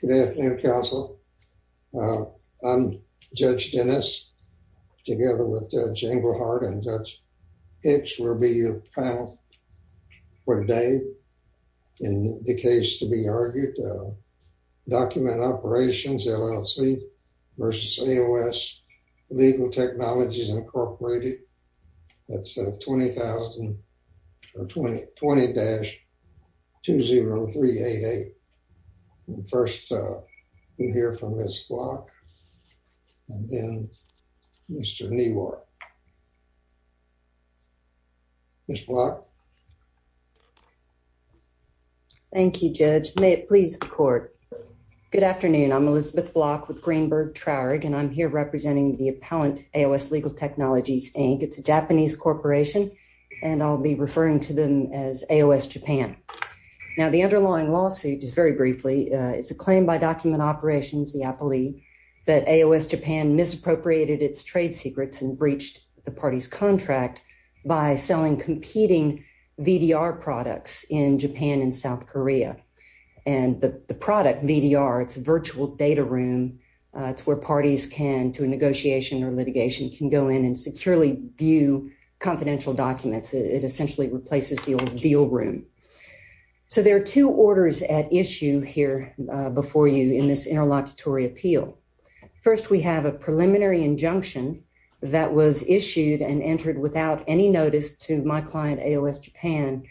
Good afternoon, Counsel. I'm Judge Dennis, together with Judge Englehardt and Judge Hicks, will be your panel for today. In the case to be argued, Document Operations LLC versus AOS Legal Technologies Incorporated. That's 20,000 or 20-20388. First, we'll hear from Ms. Block and then Mr. Newark. Ms. Block. Thank you, Judge. May it please the court. Good afternoon. I'm Elizabeth Block with Greenberg Traurig and I'm here representing the appellant AOS Legal Technologies Inc. It's a Japanese corporation and I'll be referring to them as AOS Japan. Now, the underlying lawsuit is very briefly it's a claim by Document Operations, the appellee, that AOS Japan misappropriated its trade secrets and breached the party's contract by selling competing VDR products in Japan and South Korea. And the product, VDR, it's a virtual data room. It's where parties can, to a negotiation or litigation, can go in and securely view confidential documents. It essentially replaces the old deal room. So, there are two orders at issue here before you in this interlocutory appeal. First, we have a preliminary injunction that was issued and entered without any notice to my client AOS Japan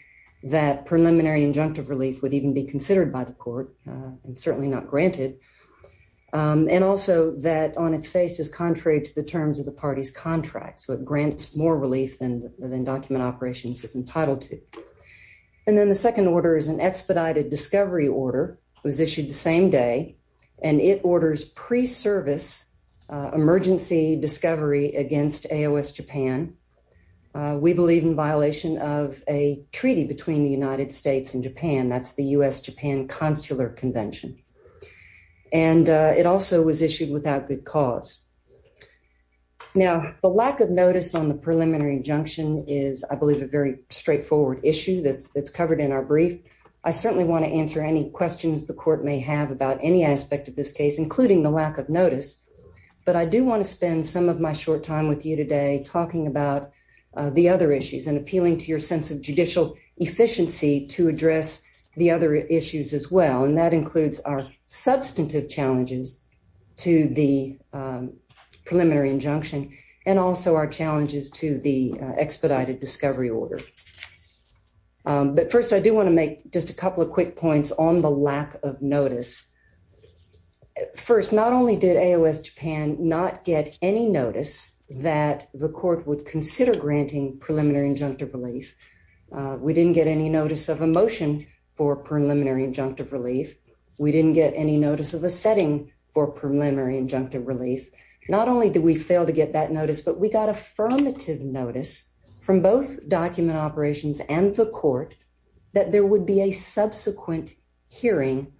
that preliminary injunctive relief would even be considered by the court and certainly not granted. And also that on its face is contrary to the terms of the party's contract. So, it grants more relief than Document Operations is entitled to. And then the second order is an expedited discovery order was issued the same day and it orders pre-service emergency discovery against AOS Japan. We believe in violation of a treaty between the United States and Japan. That's the U.S.-Japan Consular Convention. And it also was issued without good cause. Now, the lack of notice on the preliminary injunction is, I believe, a very straightforward issue that's covered in our brief. I certainly want to answer any questions the court may have about any aspect of this case, including the lack of notice. But I do want to spend some of my short time with you today talking about the other issues and appealing to your sense of judicial efficiency to address the other issues as well. And that includes our substantive challenges to the preliminary injunction and also our challenges to the expedited discovery order. But first, I do want to make just a couple of quick points on the lack of notice. First, not only did AOS Japan not get any notice that the court would consider granting preliminary injunctive relief, we didn't get any notice of a motion for preliminary injunctive relief. We didn't get any notice of a setting for preliminary injunctive relief. Not only did we fail to get that notice, but we got affirmative notice from both document operations and the court that there would be a subsequent hearing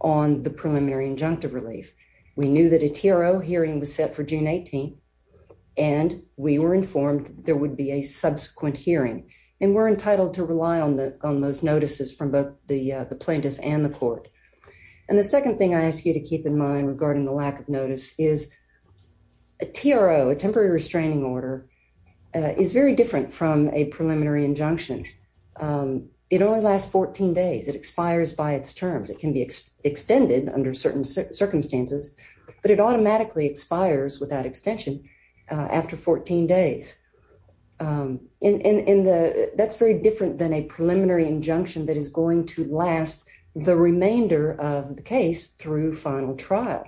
on the preliminary injunctive relief. We knew that a TRO hearing was set for June 18th, and we were informed there would be a subsequent hearing. And we're entitled to rely on those notices from both the plaintiff and the court. And the second thing I ask you to keep in mind regarding the lack of notice is a TRO, a temporary restraining order, is very different from a preliminary injunction. It only lasts 14 days. It expires by its terms. It can be extended under certain circumstances, but it automatically expires without extension after 14 days. And that's very different than a preliminary injunction that is going to last the remainder of the case through final trial.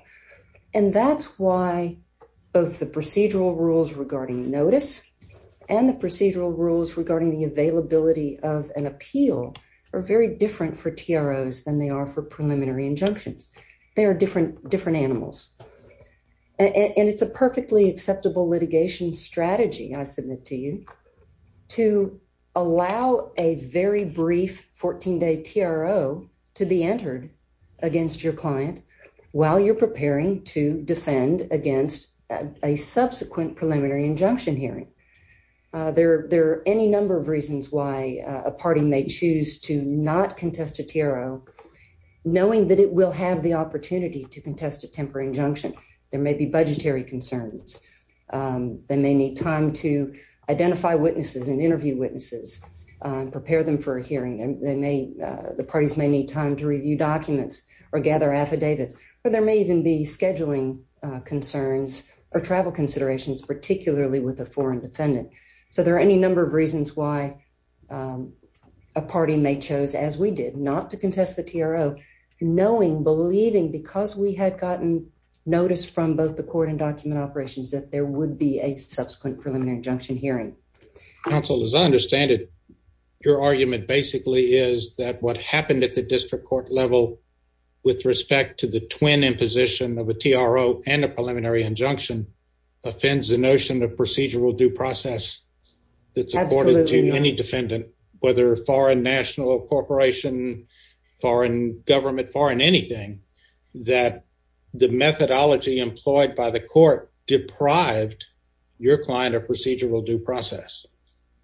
And that's why both the procedural rules regarding notice and the procedural rules regarding the availability of an appeal are very different for TROs than they are for preliminary injunctions. They are different animals. And it's a perfectly acceptable litigation strategy I submit to you to allow a very brief 14-day TRO to be entered against your client while you're preparing to defend against a subsequent preliminary injunction hearing. There are any number of reasons why a party may choose to not contest a TRO knowing that it will have the opportunity to contest a temporary injunction. There may be budgetary concerns. They may need time to identify witnesses and interview witnesses, prepare them for a hearing. The parties may need time to review documents or gather affidavits. Or there may even be scheduling concerns or travel considerations, particularly with a foreign defendant. So there are any number of reasons why a party may choose, as we did, not to contest the TRO knowing, believing, because we had gotten notice from both the court and document operations that there would be a subsequent preliminary injunction hearing. Counsel, as I understand it, your argument basically is that what happened at the district court level with respect to the twin imposition of a TRO and a preliminary injunction offends the notion of procedural due process that's according to any defendant, whether foreign national corporation, foreign government, foreign anything, that the methodology employed by the court deprived your client of procedural due process.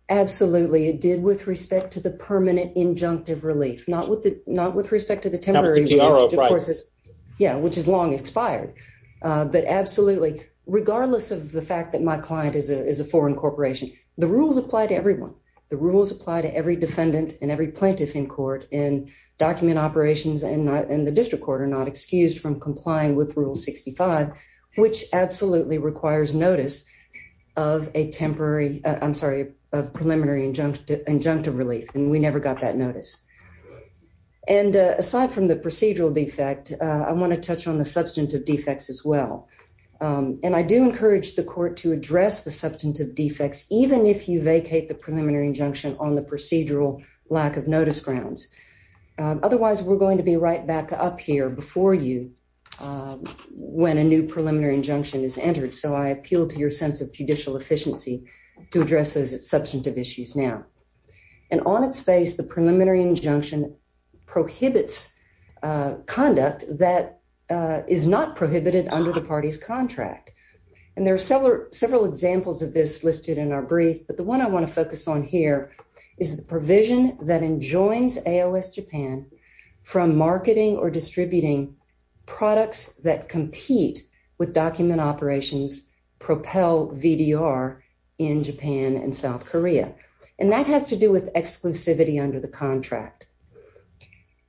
Absolutely. It did with respect to the permanent injunctive relief, not with respect to the temporary, which is long expired. But absolutely, regardless of the fact that my client is a foreign corporation, the rules apply to everyone. The rules apply to every defendant and every plaintiff in court and document operations and the district court are not excused from complying with Rule 65, which absolutely requires notice of a temporary, I'm sorry, of preliminary injunctive relief and we never got that notice. And aside from the procedural defect, I want to touch on the substantive defects as well. And I do encourage the court to address the substantive defects, even if you vacate the preliminary injunction on the procedural lack of notice grounds. Otherwise, we're going to be right back up here before you when a new preliminary injunction is entered. So I appeal to your sense of judicial efficiency to address those substantive issues now. And on its face, the preliminary injunction prohibits conduct that is not prohibited under the party's contract. And there are several examples of this listed in our brief, but the one I want to focus on here is the provision that enjoins AOS Japan from marketing or distributing products that compete with document operations propel VDR in Japan and South Korea. And that has to do with exclusivity under the contract.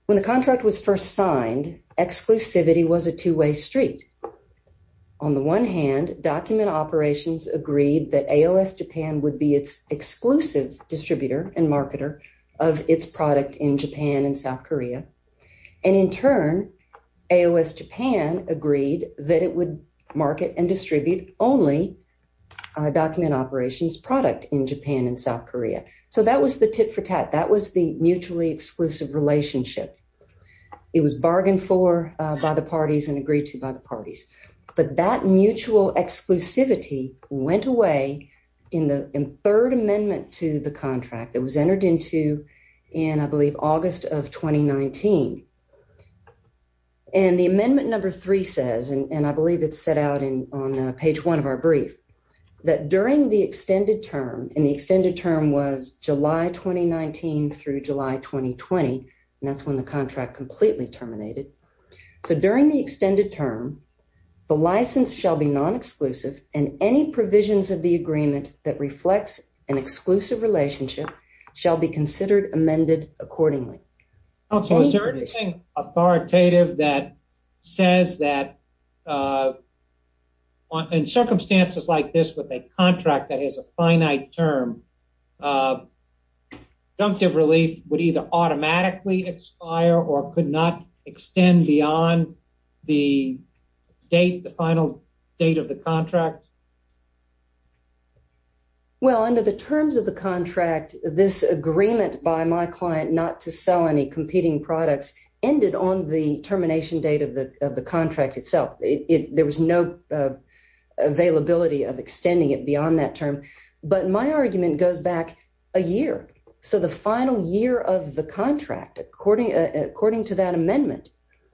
When the contract was first signed, exclusivity was a two-way street. On the one hand, document operations agreed that AOS Japan would be its exclusive distributor and marketer of its product in Japan and South Korea. And in turn, AOS Japan agreed that it would market and distribute only document operations product in Japan and South Korea. So that was the tit for tat. That was the mutually exclusive relationship. It was bargained for by the parties and agreed to by the parties. But that mutual exclusivity went away in the third amendment to the contract that was entered into in, I believe, August of 2019. And the amendment number three says, and I believe it's set out on page one of our brief, that during the extended term, and the extended term was July 2019 through July 2020, and that's when the contract completely terminated. So during the extended term, the license shall be non-exclusive and any provisions of the agreement that reflects an exclusive relationship shall be considered amended accordingly. Also, is there anything authoritative that says that in circumstances like this with a contract that has a finite term, conjunctive relief would either automatically expire or could not extend beyond the date, the final date of the contract? Well, under the terms of the contract, this agreement by my client not to sell any competing products ended on the termination date of the contract itself. There was no availability of extending it beyond that term. But my argument goes back a year. So the final year of the contract, according to that amendment,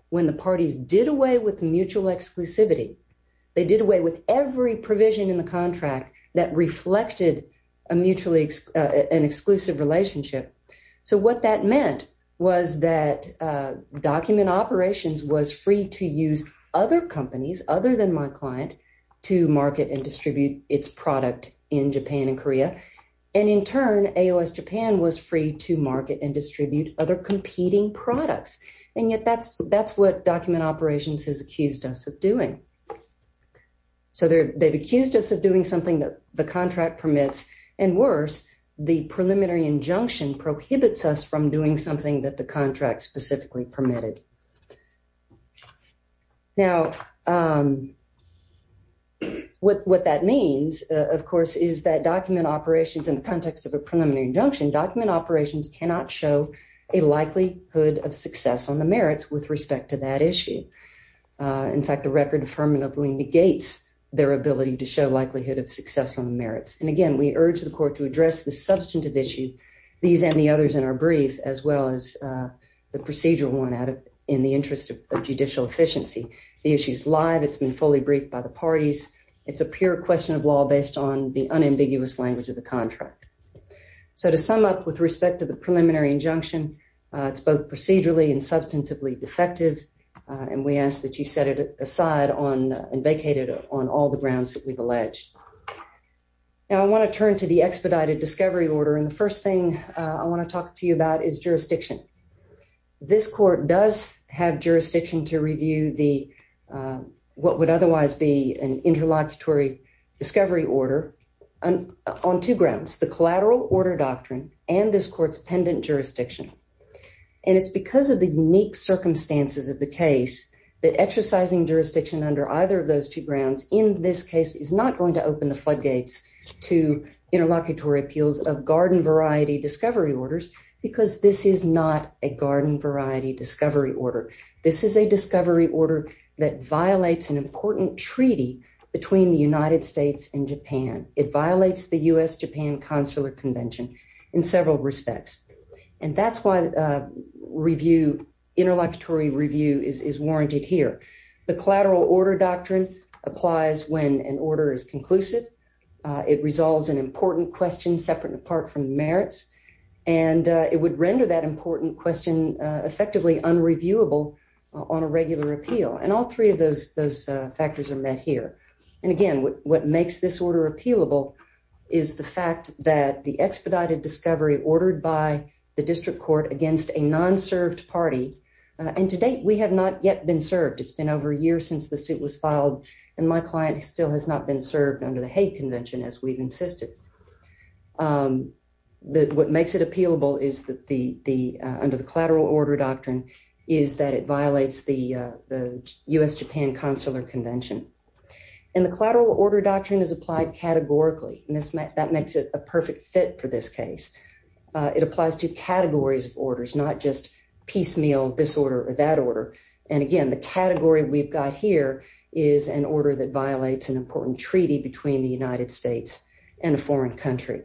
when the parties did away with mutual exclusivity, they did away with every provision in the contract that reflected an exclusive relationship. So what that meant was that Document Operations was free to use other companies other than my client to market and distribute its product in Japan and Korea, and in turn, AOS Japan was free to market and distribute other competing products. And yet that's what Document Operations has accused us of doing. So they've accused us of doing something that the contract permits, and worse, the preliminary injunction prohibits us from doing something that the contract specifically permitted. Now, what that means, of course, is that Document Operations, in the context of a preliminary injunction, Document Operations cannot show a likelihood of success on the merits with respect to that issue. In fact, the record affirmatively negates their ability to show likelihood of success on the merits. And again, we urge the court to address the substantive issue, these and the others in our brief, as well as the procedural one in the interest of judicial efficiency. The issue's live. It's been fully briefed by the parties. It's a pure question of law based on the unambiguous language of the contract. So to sum up with respect to the preliminary injunction, it's both procedurally and substantively defective, and we ask that you set it aside and vacate it on all the grounds that we've alleged. Now, I want to turn to the expedited discovery order, and the first thing I want to talk to you about is jurisdiction. This court does have jurisdiction to review what would otherwise be an interlocutory discovery order on two grounds, the collateral order doctrine and this court's pendant jurisdiction. And it's because of the unique circumstances of the case that exercising jurisdiction under either of those two grounds in this case is not going to open the floodgates to interlocutory appeals of garden variety discovery orders, because this is not a garden variety discovery order. This is a discovery order that violates an important treaty between the United States and Japan. It violates the U.S.-Japan Consular Convention in several respects, and that's why interlocutory review is warranted here. The collateral order doctrine applies when an merits, and it would render that important question effectively unreviewable on a regular appeal, and all three of those factors are met here. And again, what makes this order appealable is the fact that the expedited discovery ordered by the district court against a non-served party, and to date we have not yet been served. It's been over a year since the suit was filed, and my client still has not been served under the Hague Convention, as we've insisted. What makes it appealable under the collateral order doctrine is that it violates the U.S.-Japan Consular Convention. And the collateral order doctrine is applied categorically, and that makes it a perfect fit for this case. It applies to categories of orders, not just piecemeal, this order or that order. And again, the category we've got here is an order that violates an treaty between the United States and a foreign country.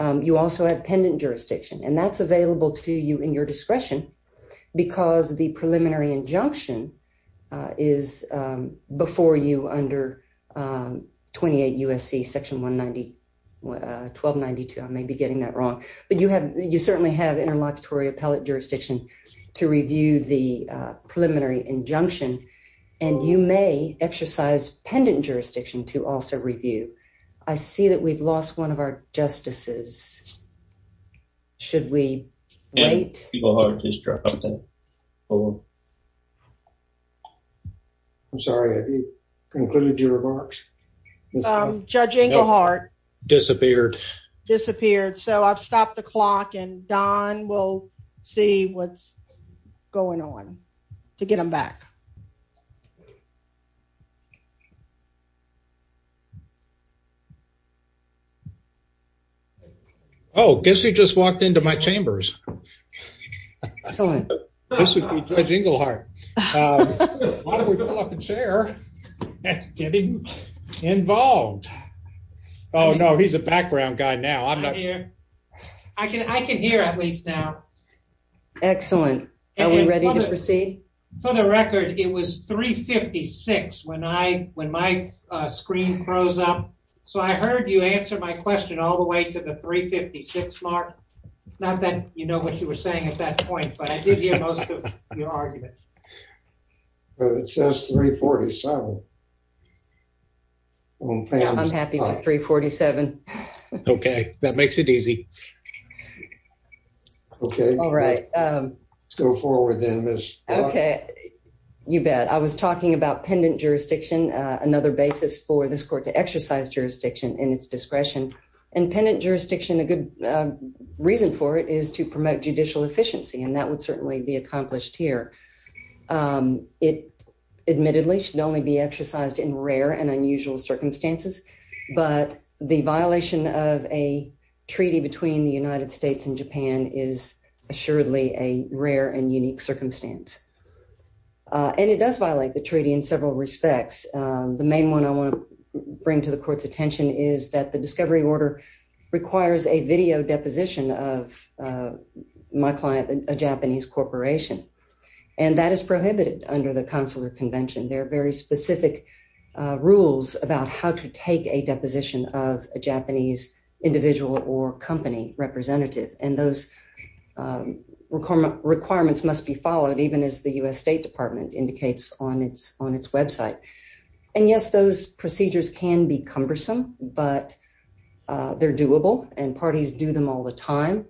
You also have pendant jurisdiction, and that's available to you in your discretion, because the preliminary injunction is before you under 28 U.S.C. section 1292. I may be getting that wrong, but you certainly have interlocutory jurisdiction to review the preliminary injunction, and you may exercise pendant jurisdiction to also review. I see that we've lost one of our justices. Should we wait? I'm sorry, have you concluded your see what's going on to get them back? Oh, guess who just walked into my chambers? Excellent. This would be Judge Engelhardt. Why don't we pull up a chair and get him involved? Oh, no, he's a background guy now. Here. I can hear at least now. Excellent. Are we ready to proceed? For the record, it was 356 when my screen froze up, so I heard you answer my question all the way to the 356 mark. Not that you know what you were saying at that point, but I did hear most of your argument. It says 347. I'm happy with 347. Okay, that makes it easy. Okay, all right, let's go forward then. Okay, you bet. I was talking about pendant jurisdiction, another basis for this court to exercise jurisdiction in its discretion, and pendant jurisdiction, a good reason for it is to promote judicial efficiency, and that would certainly be accomplished here. It admittedly should only be exercised in rare and unusual circumstances, but the violation of a treaty between the United States and Japan is assuredly a rare and unique circumstance, and it does violate the treaty in several respects. The main one I want to bring to the court's attention is that the discovery order requires a video deposition of my client, a Japanese corporation, and that is prohibited under the consular convention. There are very specific rules about how to take a deposition of a Japanese individual or company representative, and those requirements must be followed, even as the U.S. State Department indicates on its website, and yes, those procedures can be cumbersome, but they're doable, and parties do them all the time,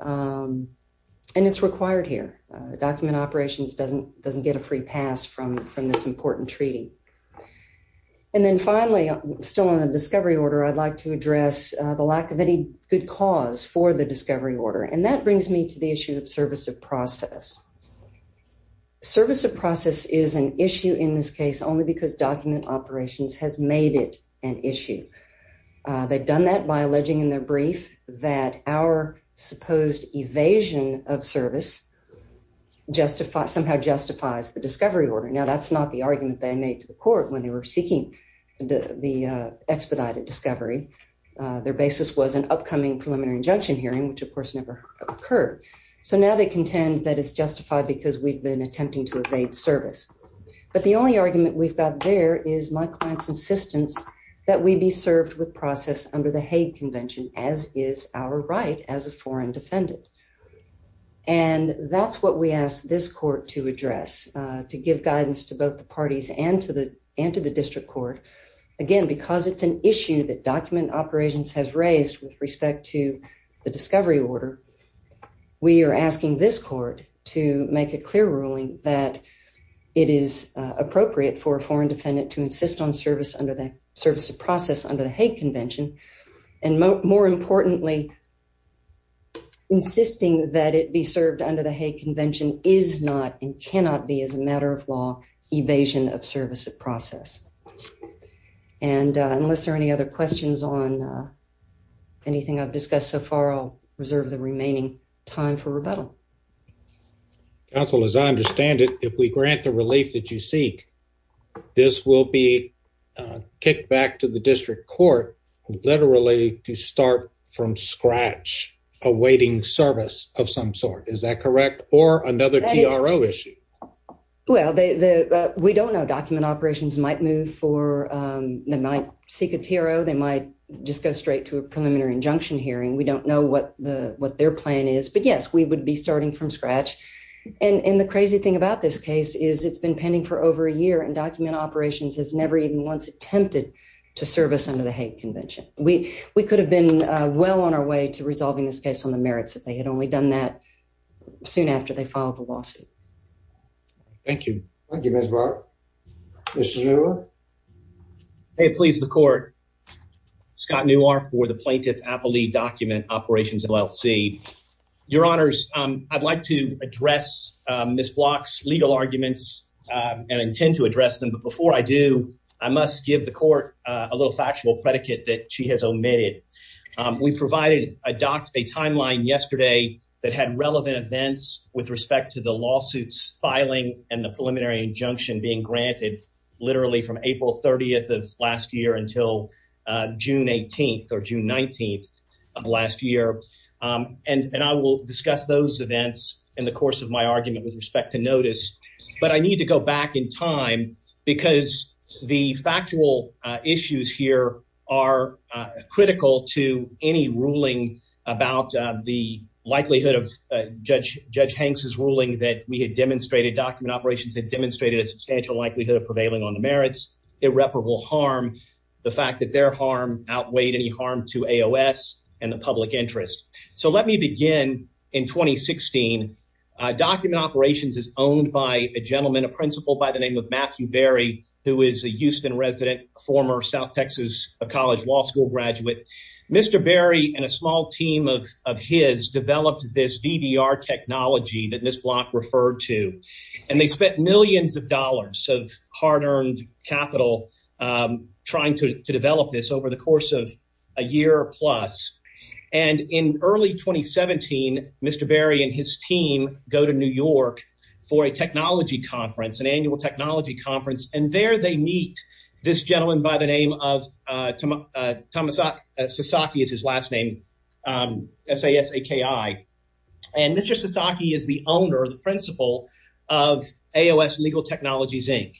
and it's required here. Document Operations doesn't get a free pass from this important treaty, and then finally, still on the discovery order, I'd like to address the lack of any good cause for the discovery order, and that brings me to the issue of service of process. Service of process is an issue in this case only because Document Operations has made it an issue. They've done that by alleging in their brief that our supposed evasion of service somehow justifies the discovery order. Now, that's not the argument they made to the court when they were seeking the expedited discovery. Their basis was an upcoming preliminary injunction hearing, which of course never occurred, so now they contend that it's justified because we've been that we be served with process under the Hague Convention, as is our right as a foreign defendant, and that's what we ask this court to address, to give guidance to both the parties and to the district court. Again, because it's an issue that Document Operations has raised with respect to the discovery order, we are asking this court to make a clear ruling that it is appropriate for a service of process under the Hague Convention, and more importantly, insisting that it be served under the Hague Convention is not and cannot be, as a matter of law, evasion of service of process. And unless there are any other questions on anything I've discussed so far, I'll reserve the remaining time for rebuttal. Counsel, as I understand it, if we grant the relief that you seek, this will be kicked back to the district court, literally to start from scratch, awaiting service of some sort. Is that correct? Or another TRO issue? Well, we don't know. Document Operations might move for, they might seek a TRO, they might just go straight to a preliminary injunction hearing. We don't know what their plan is, but yes, we would be starting from scratch. And the crazy thing about this case is it's been pending for over a year, and Document Operations has never even once attempted to service under the Hague Convention. We could have been well on our way to resolving this case on the merits, if they had only done that soon after they filed the lawsuit. Thank you. Thank you, Ms. Barr. Mr. Newell? May it please the court. Scott Newell for the Plaintiff's Appellee Document Operations, LLC. Your Honors, I'd like to address Ms. Block's legal arguments and intend to address them, but before I do, I must give the court a little factual predicate that she has omitted. We provided a timeline yesterday that had relevant events with respect to the lawsuit's and the preliminary injunction being granted literally from April 30th of last year until June 18th or June 19th of last year. And I will discuss those events in the course of my argument with respect to notice, but I need to go back in time because the factual issues here are critical to any ruling about the likelihood of Judge Hanks's ruling that we had demonstrated, Document Operations had demonstrated a substantial likelihood of prevailing on the merits, irreparable harm, the fact that their harm outweighed any harm to AOS and the public interest. So let me begin in 2016. Document Operations is owned by a gentleman, a principal by the name of Mr. Berry, and a small team of his developed this DVR technology that Ms. Block referred to, and they spent millions of dollars of hard-earned capital trying to develop this over the course of a year plus. And in early 2017, Mr. Berry and his team go to New York for a technology conference, an annual technology conference, and there they meet this gentleman by the name of Thomas Sasaki is his last name, S-A-S-A-K-I. And Mr. Sasaki is the owner, the principal of AOS Legal Technologies, Inc.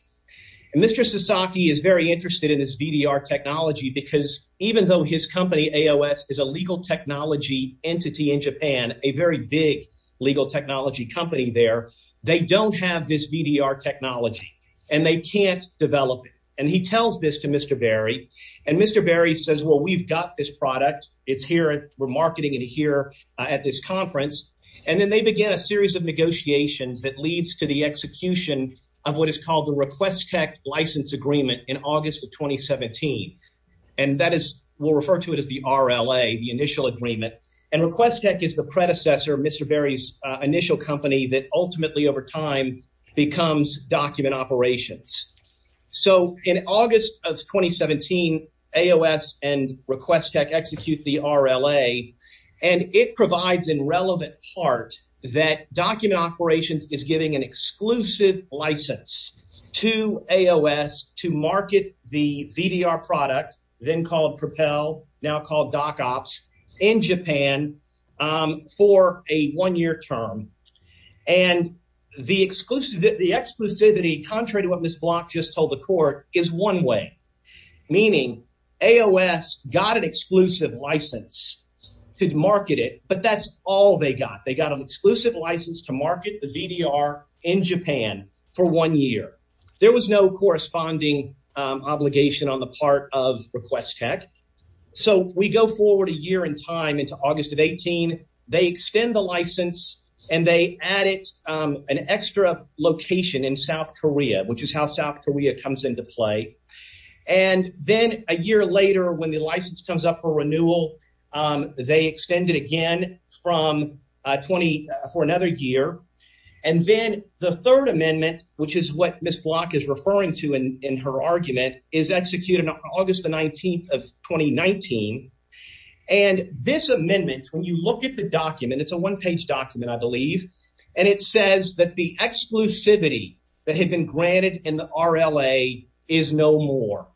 And Mr. Sasaki is very interested in this VDR technology because even though his company, AOS, is a legal technology entity in Japan, a very big legal technology company there, they don't have this VDR technology and they can't develop it. And he tells this to Mr. Berry, and Mr. Berry says, well, we've got this product, it's here, we're marketing it here at this conference. And then they begin a series of negotiations that leads to the execution of what is called the Requestech License Agreement in August of 2017. And that is, we'll refer to it as the RLA, the initial agreement. And Requestech is the predecessor of Mr. Berry's initial company that ultimately over time becomes Document Operations. So in August of 2017, AOS and Requestech execute the RLA, and it provides in relevant part that Document Operations is giving an exclusive license to AOS to market the VDR product, then called Propel, now called DocOps, in Japan for a one-year term. And the exclusivity, contrary to what Ms. Block just told the court, is one-way, meaning AOS got an exclusive license to market it, but that's all they got. They got an exclusive license to market the VDR in Japan for one year. There was no corresponding obligation on the part of AOS. And they added an extra location in South Korea, which is how South Korea comes into play. And then a year later, when the license comes up for renewal, they extend it again for another year. And then the third amendment, which is what Ms. Block is referring to in her argument, is executed on August the 19th of 2019. And this amendment, when you look at the document, it's a one-page document, I believe, and it says that the exclusivity that had been granted in the RLA is no more.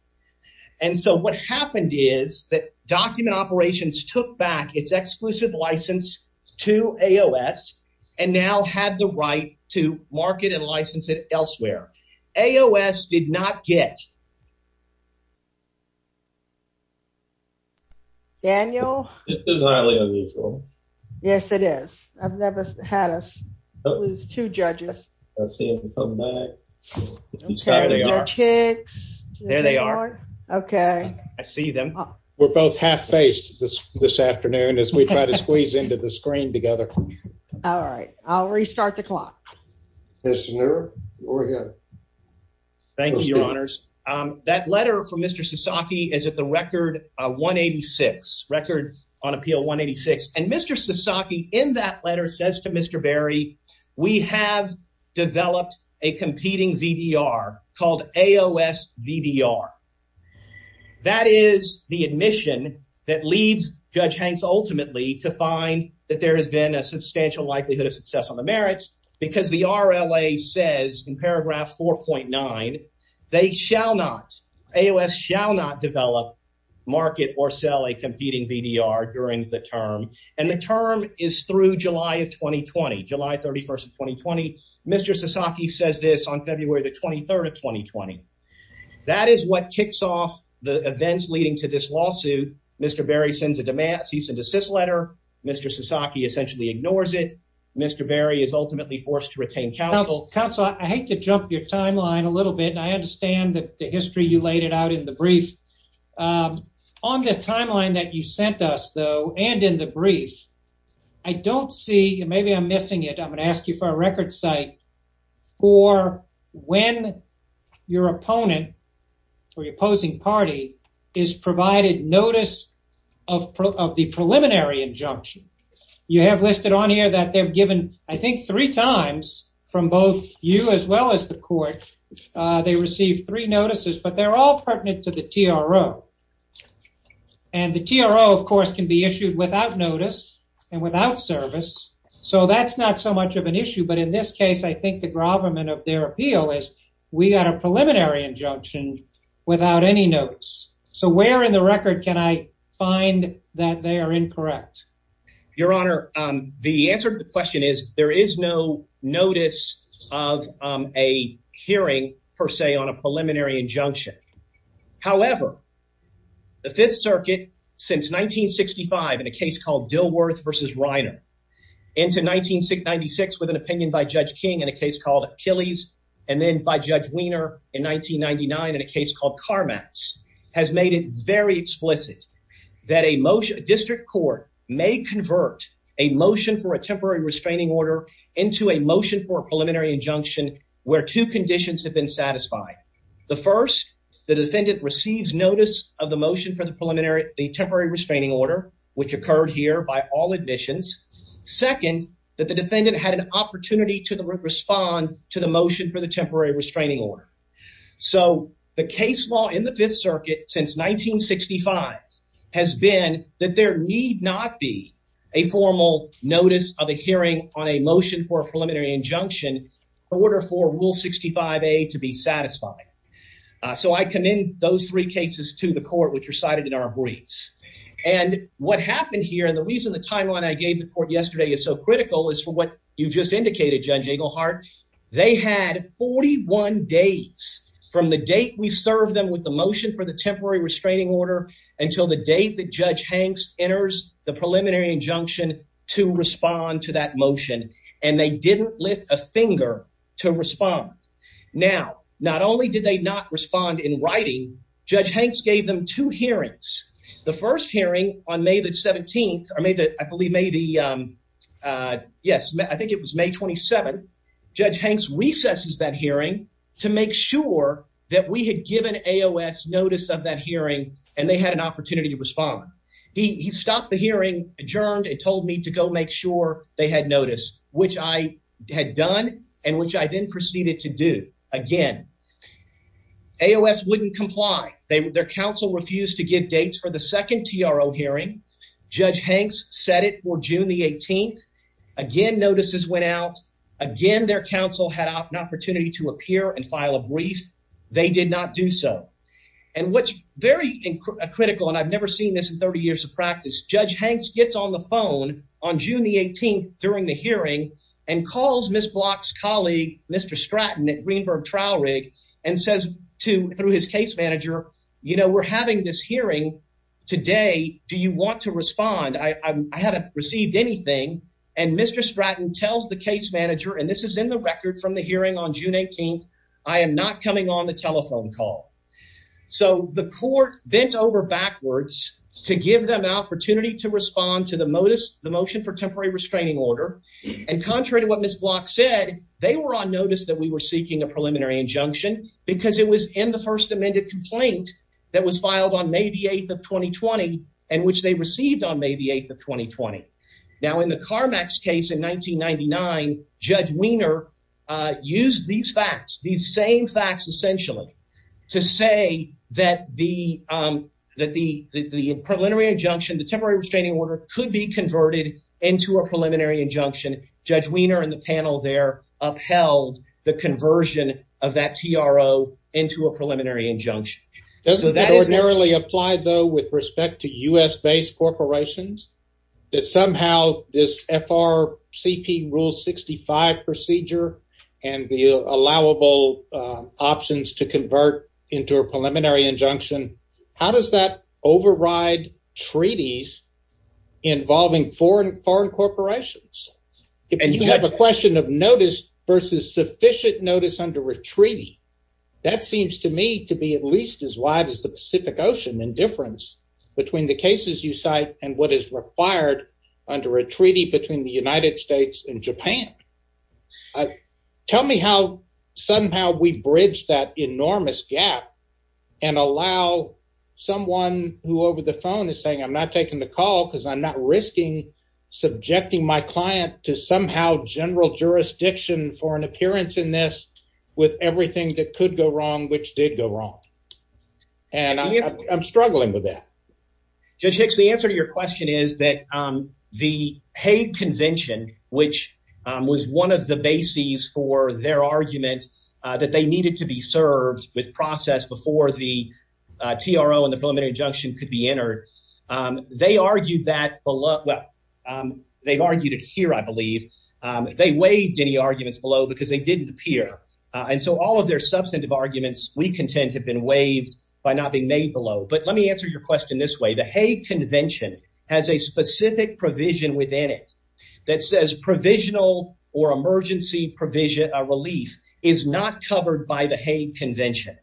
And so what happened is that Document Operations took back its exclusive license to AOS and now had the right to market and license it elsewhere. AOS did not get... It is. I've never had us lose two judges. There they are. Okay. I see them. We're both half-faced this afternoon as we try to squeeze into the screen together. All right. I'll restart the clock. Mr. Neuro, go ahead. Thank you, Your Honors. That letter from Mr. Sasaki is at the record 186, record on appeal 186. And Mr. Sasaki, in that letter, says to Mr. Berry, we have developed a competing VDR called AOS VDR. That is the admission that leads Judge Hanks ultimately to find that there has been a substantial likelihood of success on the merits because the RLA says in paragraph 4.9, they shall not, AOS shall not develop, market, or sell a competing VDR during the term. And the term is through July of 2020, July 31st of 2020. Mr. Sasaki says this on February the 23rd of 2020. That is what kicks off the events leading to this lawsuit. Mr. Berry sends a cease and desist letter. Mr. Sasaki essentially ignores it. Mr. Berry is ultimately forced to retain counsel. Counsel, I hate to jump your timeline a little bit. And I understand that the history you laid out in the brief. On the timeline that you sent us though, and in the brief, I don't see, maybe I'm missing it. I'm going to ask you for a record site for when your opponent or your opposing party is provided notice of the preliminary injunction. You have listed on here that they've given, I think three times from both you as well as the court, they received three notices, but they're all pertinent to the TRO. And the TRO, of course, can be issued without notice and without service. So that's not so much of an issue. But in this case, I think the gravamen of their appeal is we got a preliminary injunction without any notes. So where in the record can I find that they are incorrect? Your Honor, the answer to the question is there is no notice of a hearing, per se, on a preliminary injunction. However, the Fifth Circuit, since 1965 in a case called Dilworth v. Reiner, into 1996 with an opinion by Judge King in a case called Achilles, and then by Judge Wiener in 1999 in a case called Carmax, has made it very explicit that a district court may convert a motion for a temporary restraining order into a motion for a preliminary injunction where two conditions have been satisfied. The first, the defendant receives notice of the motion for the temporary restraining order, which occurred here by all admissions. Second, that the defendant had an opportunity to respond to the motion for the temporary restraining order. So the case law in the Fifth Circuit, since 1965, has been that there need not be a formal notice of a hearing on a motion for a preliminary injunction in order for Rule 65A to be satisfied. So I commend those three cases to the court, which are cited in our briefs. And what happened here, and the reason the timeline I gave the court yesterday is so critical, is for what you've just indicated, Judge Englehart. They had 41 days from the date we served them with the motion for the temporary restraining order until the date that Judge Hanks enters the preliminary injunction to respond to that motion, and they didn't lift a finger to respond. Now, not only did they not respond in writing, Judge Hanks gave them two hearings. The first hearing on May the 17th, I believe May the, uh, yes, I think it was May 27th. Judge Hanks recesses that hearing to make sure that we had given AOS notice of that hearing, and they had an opportunity to respond. He stopped the hearing, adjourned, and told me to go make sure they had noticed, which I had done, and which I then proceeded to do again. AOS wouldn't comply. Their counsel refused to give dates for the 18th. Again, notices went out. Again, their counsel had an opportunity to appear and file a brief. They did not do so. And what's very critical, and I've never seen this in 30 years of practice, Judge Hanks gets on the phone on June the 18th during the hearing and calls Ms. Block's colleague, Mr. Stratton at Greenberg Trial Rig, and says to, through his case manager, you know, we're having this hearing today. Do you want to respond? I haven't received anything. And Mr. Stratton tells the case manager, and this is in the record from the hearing on June 18th, I am not coming on the telephone call. So the court bent over backwards to give them an opportunity to respond to the motion for temporary restraining order. And contrary to what Ms. Block said, they were on notice that we were seeking a preliminary injunction because it was in the first amended complaint that was filed on May the 8th of 2020 and which they received on May the 8th of 2020. Now in the Carmax case in 1999, Judge Wiener used these facts, these same facts essentially, to say that the preliminary injunction, the temporary restraining order, could be converted into a preliminary injunction. Judge Wiener and the panel there upheld the injunction. Doesn't that ordinarily apply, though, with respect to U.S.-based corporations, that somehow this FRCP Rule 65 procedure and the allowable options to convert into a preliminary injunction, how does that override treaties involving foreign corporations? And you have question of notice versus sufficient notice under a treaty. That seems to me to be at least as wide as the Pacific Ocean in difference between the cases you cite and what is required under a treaty between the United States and Japan. Tell me how somehow we bridge that enormous gap and allow someone who over the phone is saying, I'm not taking the call because I'm not risking subjecting my client to somehow general jurisdiction for an appearance in this with everything that could go wrong which did go wrong. And I'm struggling with that. Judge Hicks, the answer to your question is that the Hague Convention, which was one of the bases for their argument that they needed to be served with process before the TRO and the preliminary injunction could be entered, they argued that below. Well, they've argued it here, I believe. They waived any arguments below because they didn't appear. And so all of their substantive arguments, we contend, have been waived by not being made below. But let me answer your question this way. The Hague Convention has a specific provision within it that says provisional or emergency provision relief is not covered by the Hague Convention.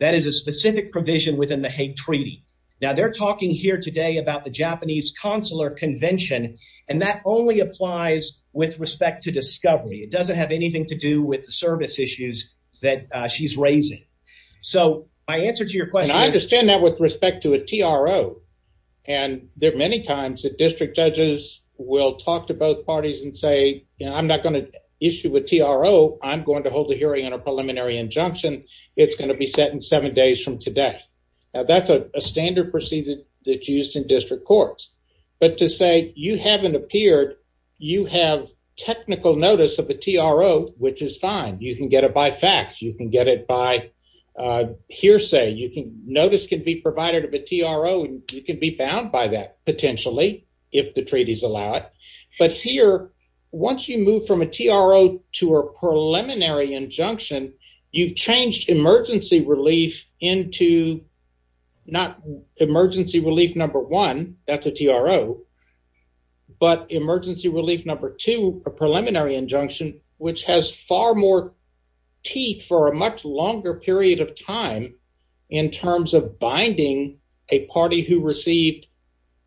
That is a specific provision within the Hague Treaty. Now they're talking here today about the Japanese Consular Convention and that only applies with respect to discovery. It doesn't have anything to do with the service issues that she's raising. So my answer to your question... And I understand that with respect to a TRO. And there are many times that district judges will talk to both parties and say, you know, I'm not going to issue a TRO. I'm going to hold the hearing on a preliminary injunction. It's going to be set seven days from today. Now that's a standard procedure that's used in district courts. But to say you haven't appeared, you have technical notice of a TRO, which is fine. You can get it by fax. You can get it by hearsay. Notice can be provided of a TRO and you can be bound by that potentially, if the treaties allow it. But here, once you move from a TRO to a preliminary injunction, you've changed emergency relief into not emergency relief number one, that's a TRO, but emergency relief number two, a preliminary injunction, which has far more teeth for a much longer period of time in terms of binding a party who received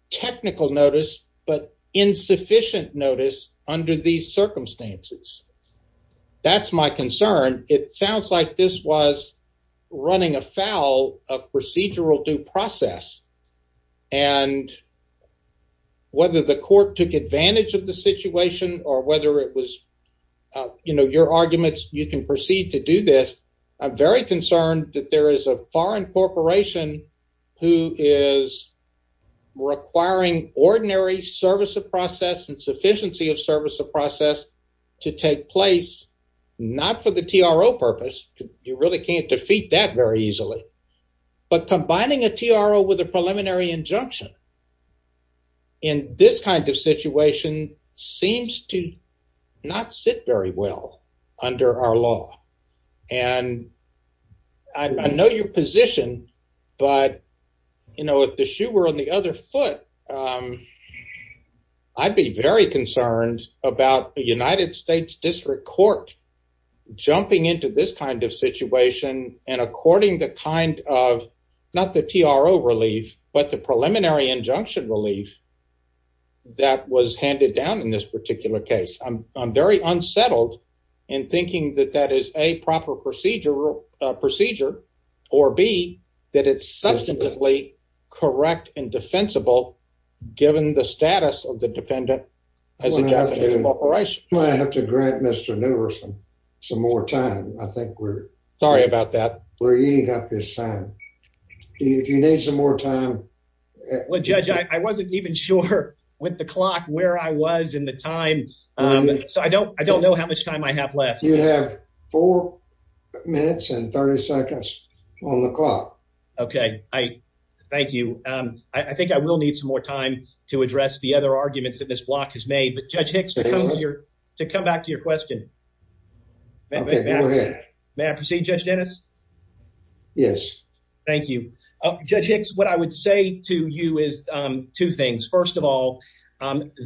technical notice, but insufficient notice under these circumstances. That's my concern. It sounds like this was running afoul of procedural due process. And whether the court took advantage of the situation or whether it was, you know, your arguments, you can proceed to do this. I'm very concerned that there is a foreign corporation who is requiring ordinary service of process and sufficiency of service of process to take place, not for the TRO purpose. You really can't defeat that very easily. But combining a TRO with a preliminary injunction in this kind of situation seems to not sit very well under our law. And I know your position, but, you know, if the shoe were on the other foot, I'd be very concerned about the United States District Court jumping into this kind of situation and according the kind of, not the TRO relief, but the preliminary injunction relief that was handed down in this particular case. I'm very unsettled in thinking that that is a proper procedural procedure or B, that it's substantively correct and defensible given the status of the defendant as a Japanese corporation. I have to grant Mr. Newerson some more time. I think we're sorry about that. We're eating up his time. If you need some more time. Well, Judge, I wasn't even sure with the clock where I was in the time. So I don't know how much time I have left. You have four minutes and 30 seconds on the clock. Okay. Thank you. I think I will need some more time to address the other arguments that this block has made. But Judge Hicks, to come back to your question. Okay, go ahead. May I proceed, Judge Dennis? Yes. Thank you. Judge Hicks, what I would say to you is two things. First of all,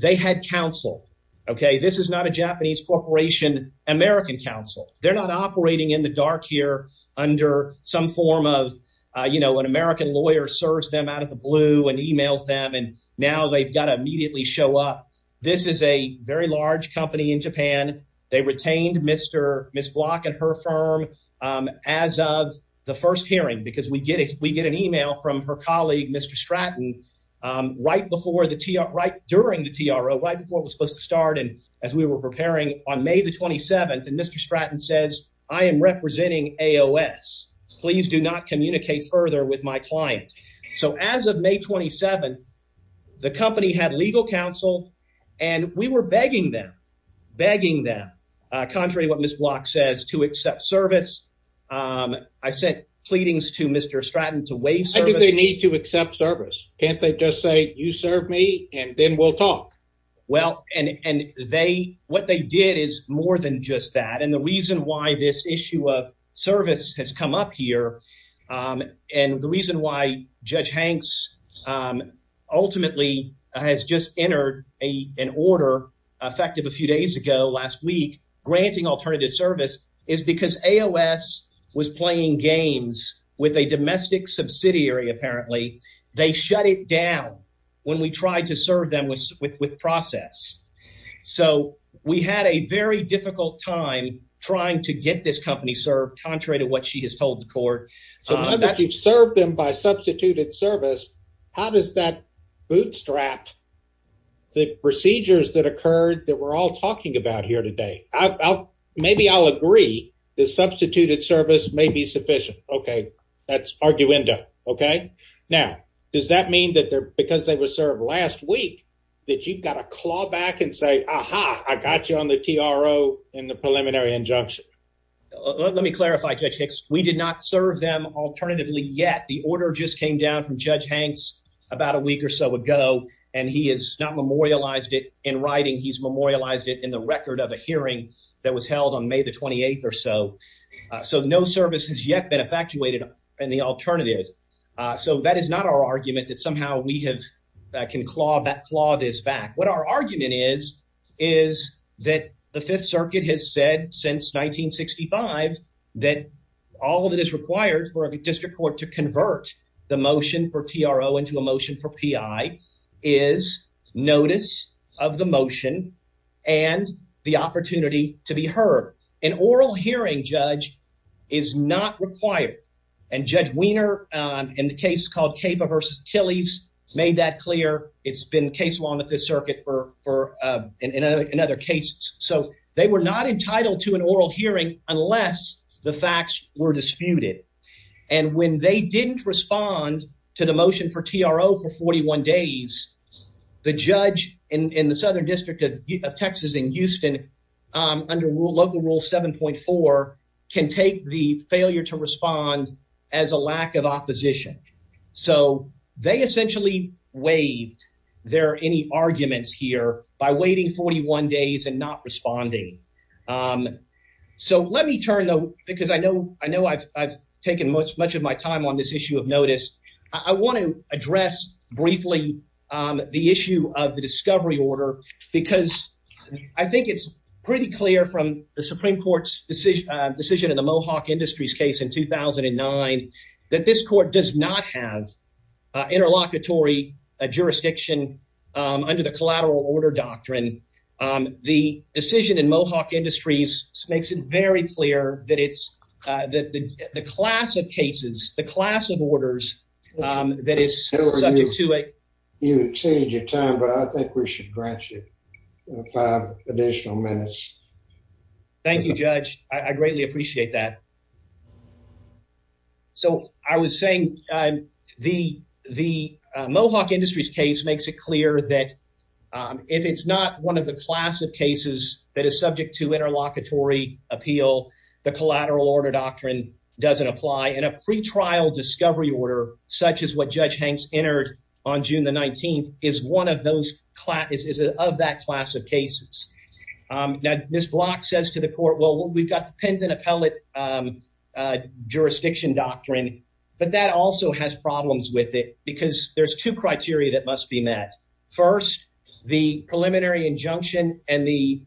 they had counsel. Okay. This is not a Japanese corporation, American counsel. They're not operating in the dark here under some form of, you know, an American lawyer serves them out of the blue and emails them and now they've got to immediately show up. This is a very large company in Japan. They retained Mr. Miss Block and her firm. Um, as of the first hearing, because we get it, we get an email from her colleague, Mr Stratton, um, right before the T. R. Right during the T. R. O. Right before it was supposed to start. And as we were preparing on May the 27th and Mr Stratton says, I am representing A. O. S. Please do not communicate further with my client. So as of May 27th, the company had legal counsel and we were begging them, begging them contrary what Miss Block says to accept service. Um, I said pleadings to Mr Stratton to wave service. They need to accept service. Can't they just say you serve me and then we'll talk? Well, and and they what they did is more than just that. And the reason why this issue of service has come up here. Um, and the reason why Judge Hanks, um, a an order effective a few days ago last week granting alternative service is because A. O. S. was playing games with a domestic subsidiary. Apparently they shut it down when we tried to serve them with with process. So we had a very difficult time trying to get this company served contrary to what she has told the court that you've served them by substituted service. How does that bootstrap the procedures that occurred that we're all talking about here today? Maybe I'll agree. The substituted service may be sufficient. Okay, that's arguendo. Okay. Now, does that mean that because they were served last week that you've got a claw back and say, Aha, I got you on the T. R. O. In the preliminary injunction. Let me clarify, Judge Hicks. We did serve them alternatively. Yet the order just came down from Judge Hanks about a week or so ago, and he is not memorialized it in writing. He's memorialized it in the record of a hearing that was held on May the 28th or so. Eso no service has yet been effectuated in the alternative. Eso that is not our argument that somehow we have can claw that claw this back. Our argument is is that the Fifth Circuit has said since 1965 that all that is required for a district court to convert the motion for T. R. O. Into a motion for P. I. Is notice of the motion and the opportunity to be heard. An oral hearing judge is not required. And Judge Wiener in the called Capa versus Chili's made that clear. It's been case along with the circuit for another case, so they were not entitled to an oral hearing unless the facts were disputed. And when they didn't respond to the motion for T. R. O. For 41 days, the judge in the Southern District of Texas in Houston under local rule 7.4 can take the failure to respond as a lack of opposition. So they essentially waived their any arguments here by waiting 41 days and not responding. Eso let me turn, though, because I know I know I've taken much much of my time on this issue of notice. I want to address briefly the issue of the discovery order, because I think it's pretty clear from the Supreme Court's decision decision in the Mohawk Industries case in 2000 and nine that this court does not have interlocutory jurisdiction under the collateral order doctrine. The decision in Mohawk Industries makes it very clear that it's that the class of cases, the class of orders that is subject to a you change your time, but I think we should grant you five additional minutes. Thank you, Judge. I greatly appreciate that. So I was saying the the Mohawk Industries case makes it clear that if it's not one of the class of cases that is subject to interlocutory appeal, the collateral order doctrine doesn't apply in a pretrial discovery order, such as what Judge Hanks entered on June. The 19th is one of is of that class of cases. Now, this block says to the court, well, we've got the pendant appellate jurisdiction doctrine, but that also has problems with it because there's two criteria that must be met. First, the preliminary injunction and the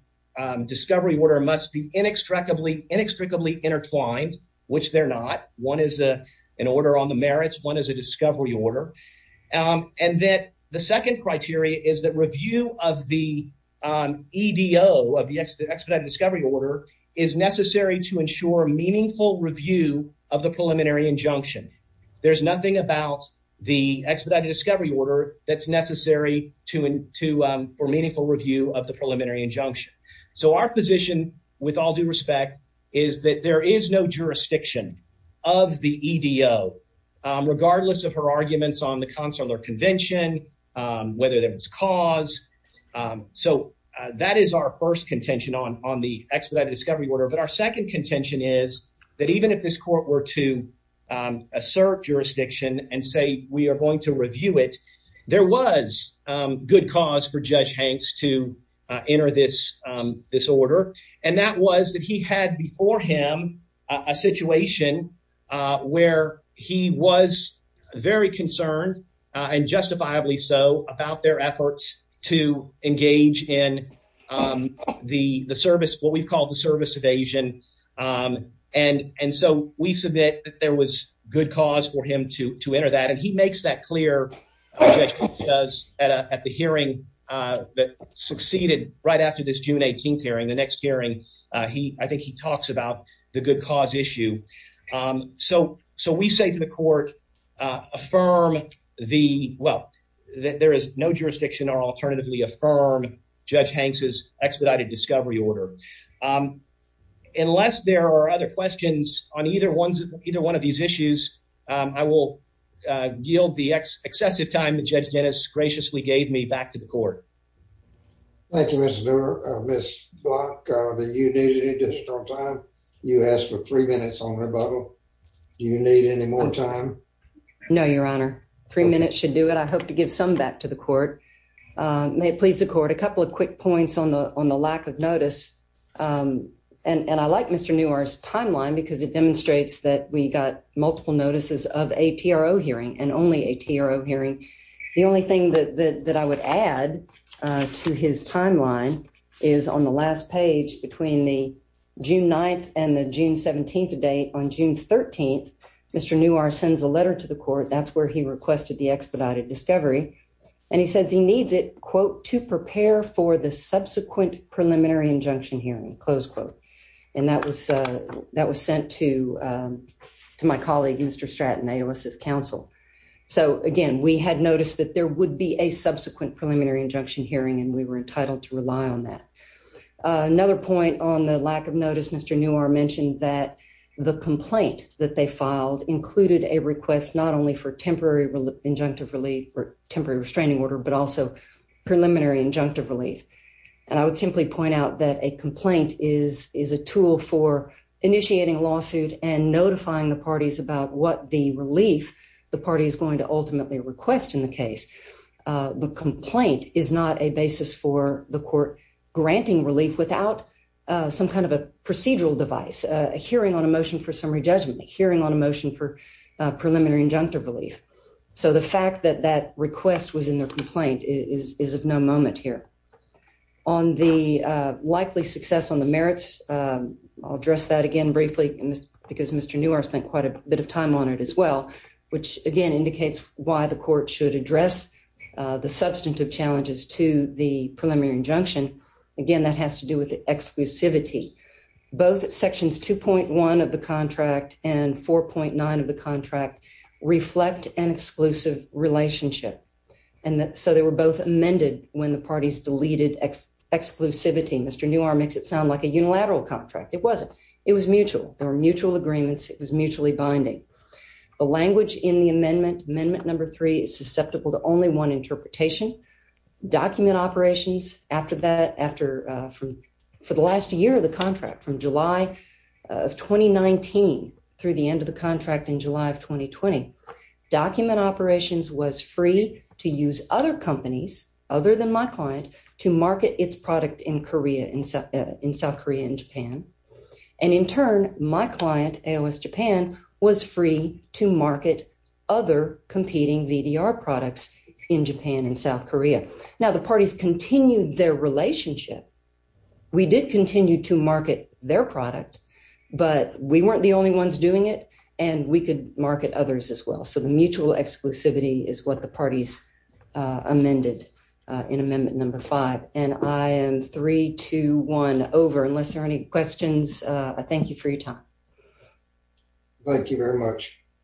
discovery order must be inextricably inextricably intertwined, which they're not. One is a an order on the merits. One is a discovery order. And that the second criteria is that review of the E.D.O. of the expedited discovery order is necessary to ensure meaningful review of the preliminary injunction. There's nothing about the expedited discovery order that's necessary to for meaningful review of the preliminary injunction. So our position, with all due respect, is that there is no jurisdiction of the E.D.O., regardless of her arguments on the consular convention, whether there was cause. So that is our first contention on the expedited discovery order. But our second contention is that even if this court were to assert jurisdiction and say we are going to review it, there was good cause for very concerned and justifiably so about their efforts to engage in the service, what we've called the service evasion. And so we submit that there was good cause for him to enter that. And he makes that clear at the hearing that succeeded right after this June 18th hearing. The next hearing, I think he talks about the good cause issue. So we say to the court, affirm the well, there is no jurisdiction or alternatively affirm Judge Hanks's expedited discovery order. Unless there are other questions on either one of these issues, I will yield the excessive time Judge Dennis graciously gave me back to the court. Thank you, Mr. Doerr. Ms. Block, do you need additional time? You asked for three minutes on rebuttal. Do you need any more time? No, Your Honor. Three minutes should do it. I hope to give some back to the court. May it please the court. A couple of quick points on the lack of notice. And I like Mr. Newar's timeline because it demonstrates that we got multiple notices of ATRO hearing and only ATRO hearing. The only thing that I would add to his timeline is on the last page between the June 9th and the June 17th date. On June 13th, Mr. Newar sends a letter to the court. That's where he requested the expedited discovery. And he says he needs it, quote, to prepare for the subsequent preliminary injunction hearing, close quote. And that was sent to my colleague, Mr. Stratton, AOS's counsel. So again, we had noticed that there would be a subsequent preliminary injunction hearing, and we were entitled to rely on that. Another point on the lack of notice, Mr. Newar mentioned that the complaint that they filed included a request not only for temporary injunctive relief or temporary restraining order, but also preliminary injunctive relief. And I would simply point out that a complaint is a tool for initiating a lawsuit and notifying the parties about what the relief the party is going to ultimately request in the case. The complaint is not a basis for the court granting relief without some kind of a procedural device, a hearing on a motion for summary judgment, a hearing on a motion for preliminary injunctive relief. So the fact that that request was in the complaint is of no moment here. On the likely success on the merits, I'll address that again briefly because Mr. Newar spent quite a bit of time on it as well, which again indicates why the court should address the substantive challenges to the preliminary injunction. Again, that has to do with the exclusivity. Both sections 2.1 of the contract and 4.9 of the contract reflect an exclusive relationship. And so they were both amended when the parties deleted exclusivity. Mr. Newar makes it sound like a unilateral contract. It wasn't. It was mutual. There were mutual agreements. It was mutually binding. The language in the amendment, amendment number three, is susceptible to only one interpretation. Document Operations, after that, for the last year of the contract, from July of 2019 through the end of the contract in July of 2020, Document Operations was free to use other companies, other than my client, to market its product in South Korea and Japan. And in turn, my client, AOS Japan, was free to market other competing VDR products in Japan and South Korea. Now, the parties continued their relationship. We did continue to market their product, but we weren't the only ones doing it, and we could market others as well. So the mutual exclusivity is what the parties amended in amendment number five. And I am three, two, one, over. Unless there are any questions, I thank you for your time. Thank you very much.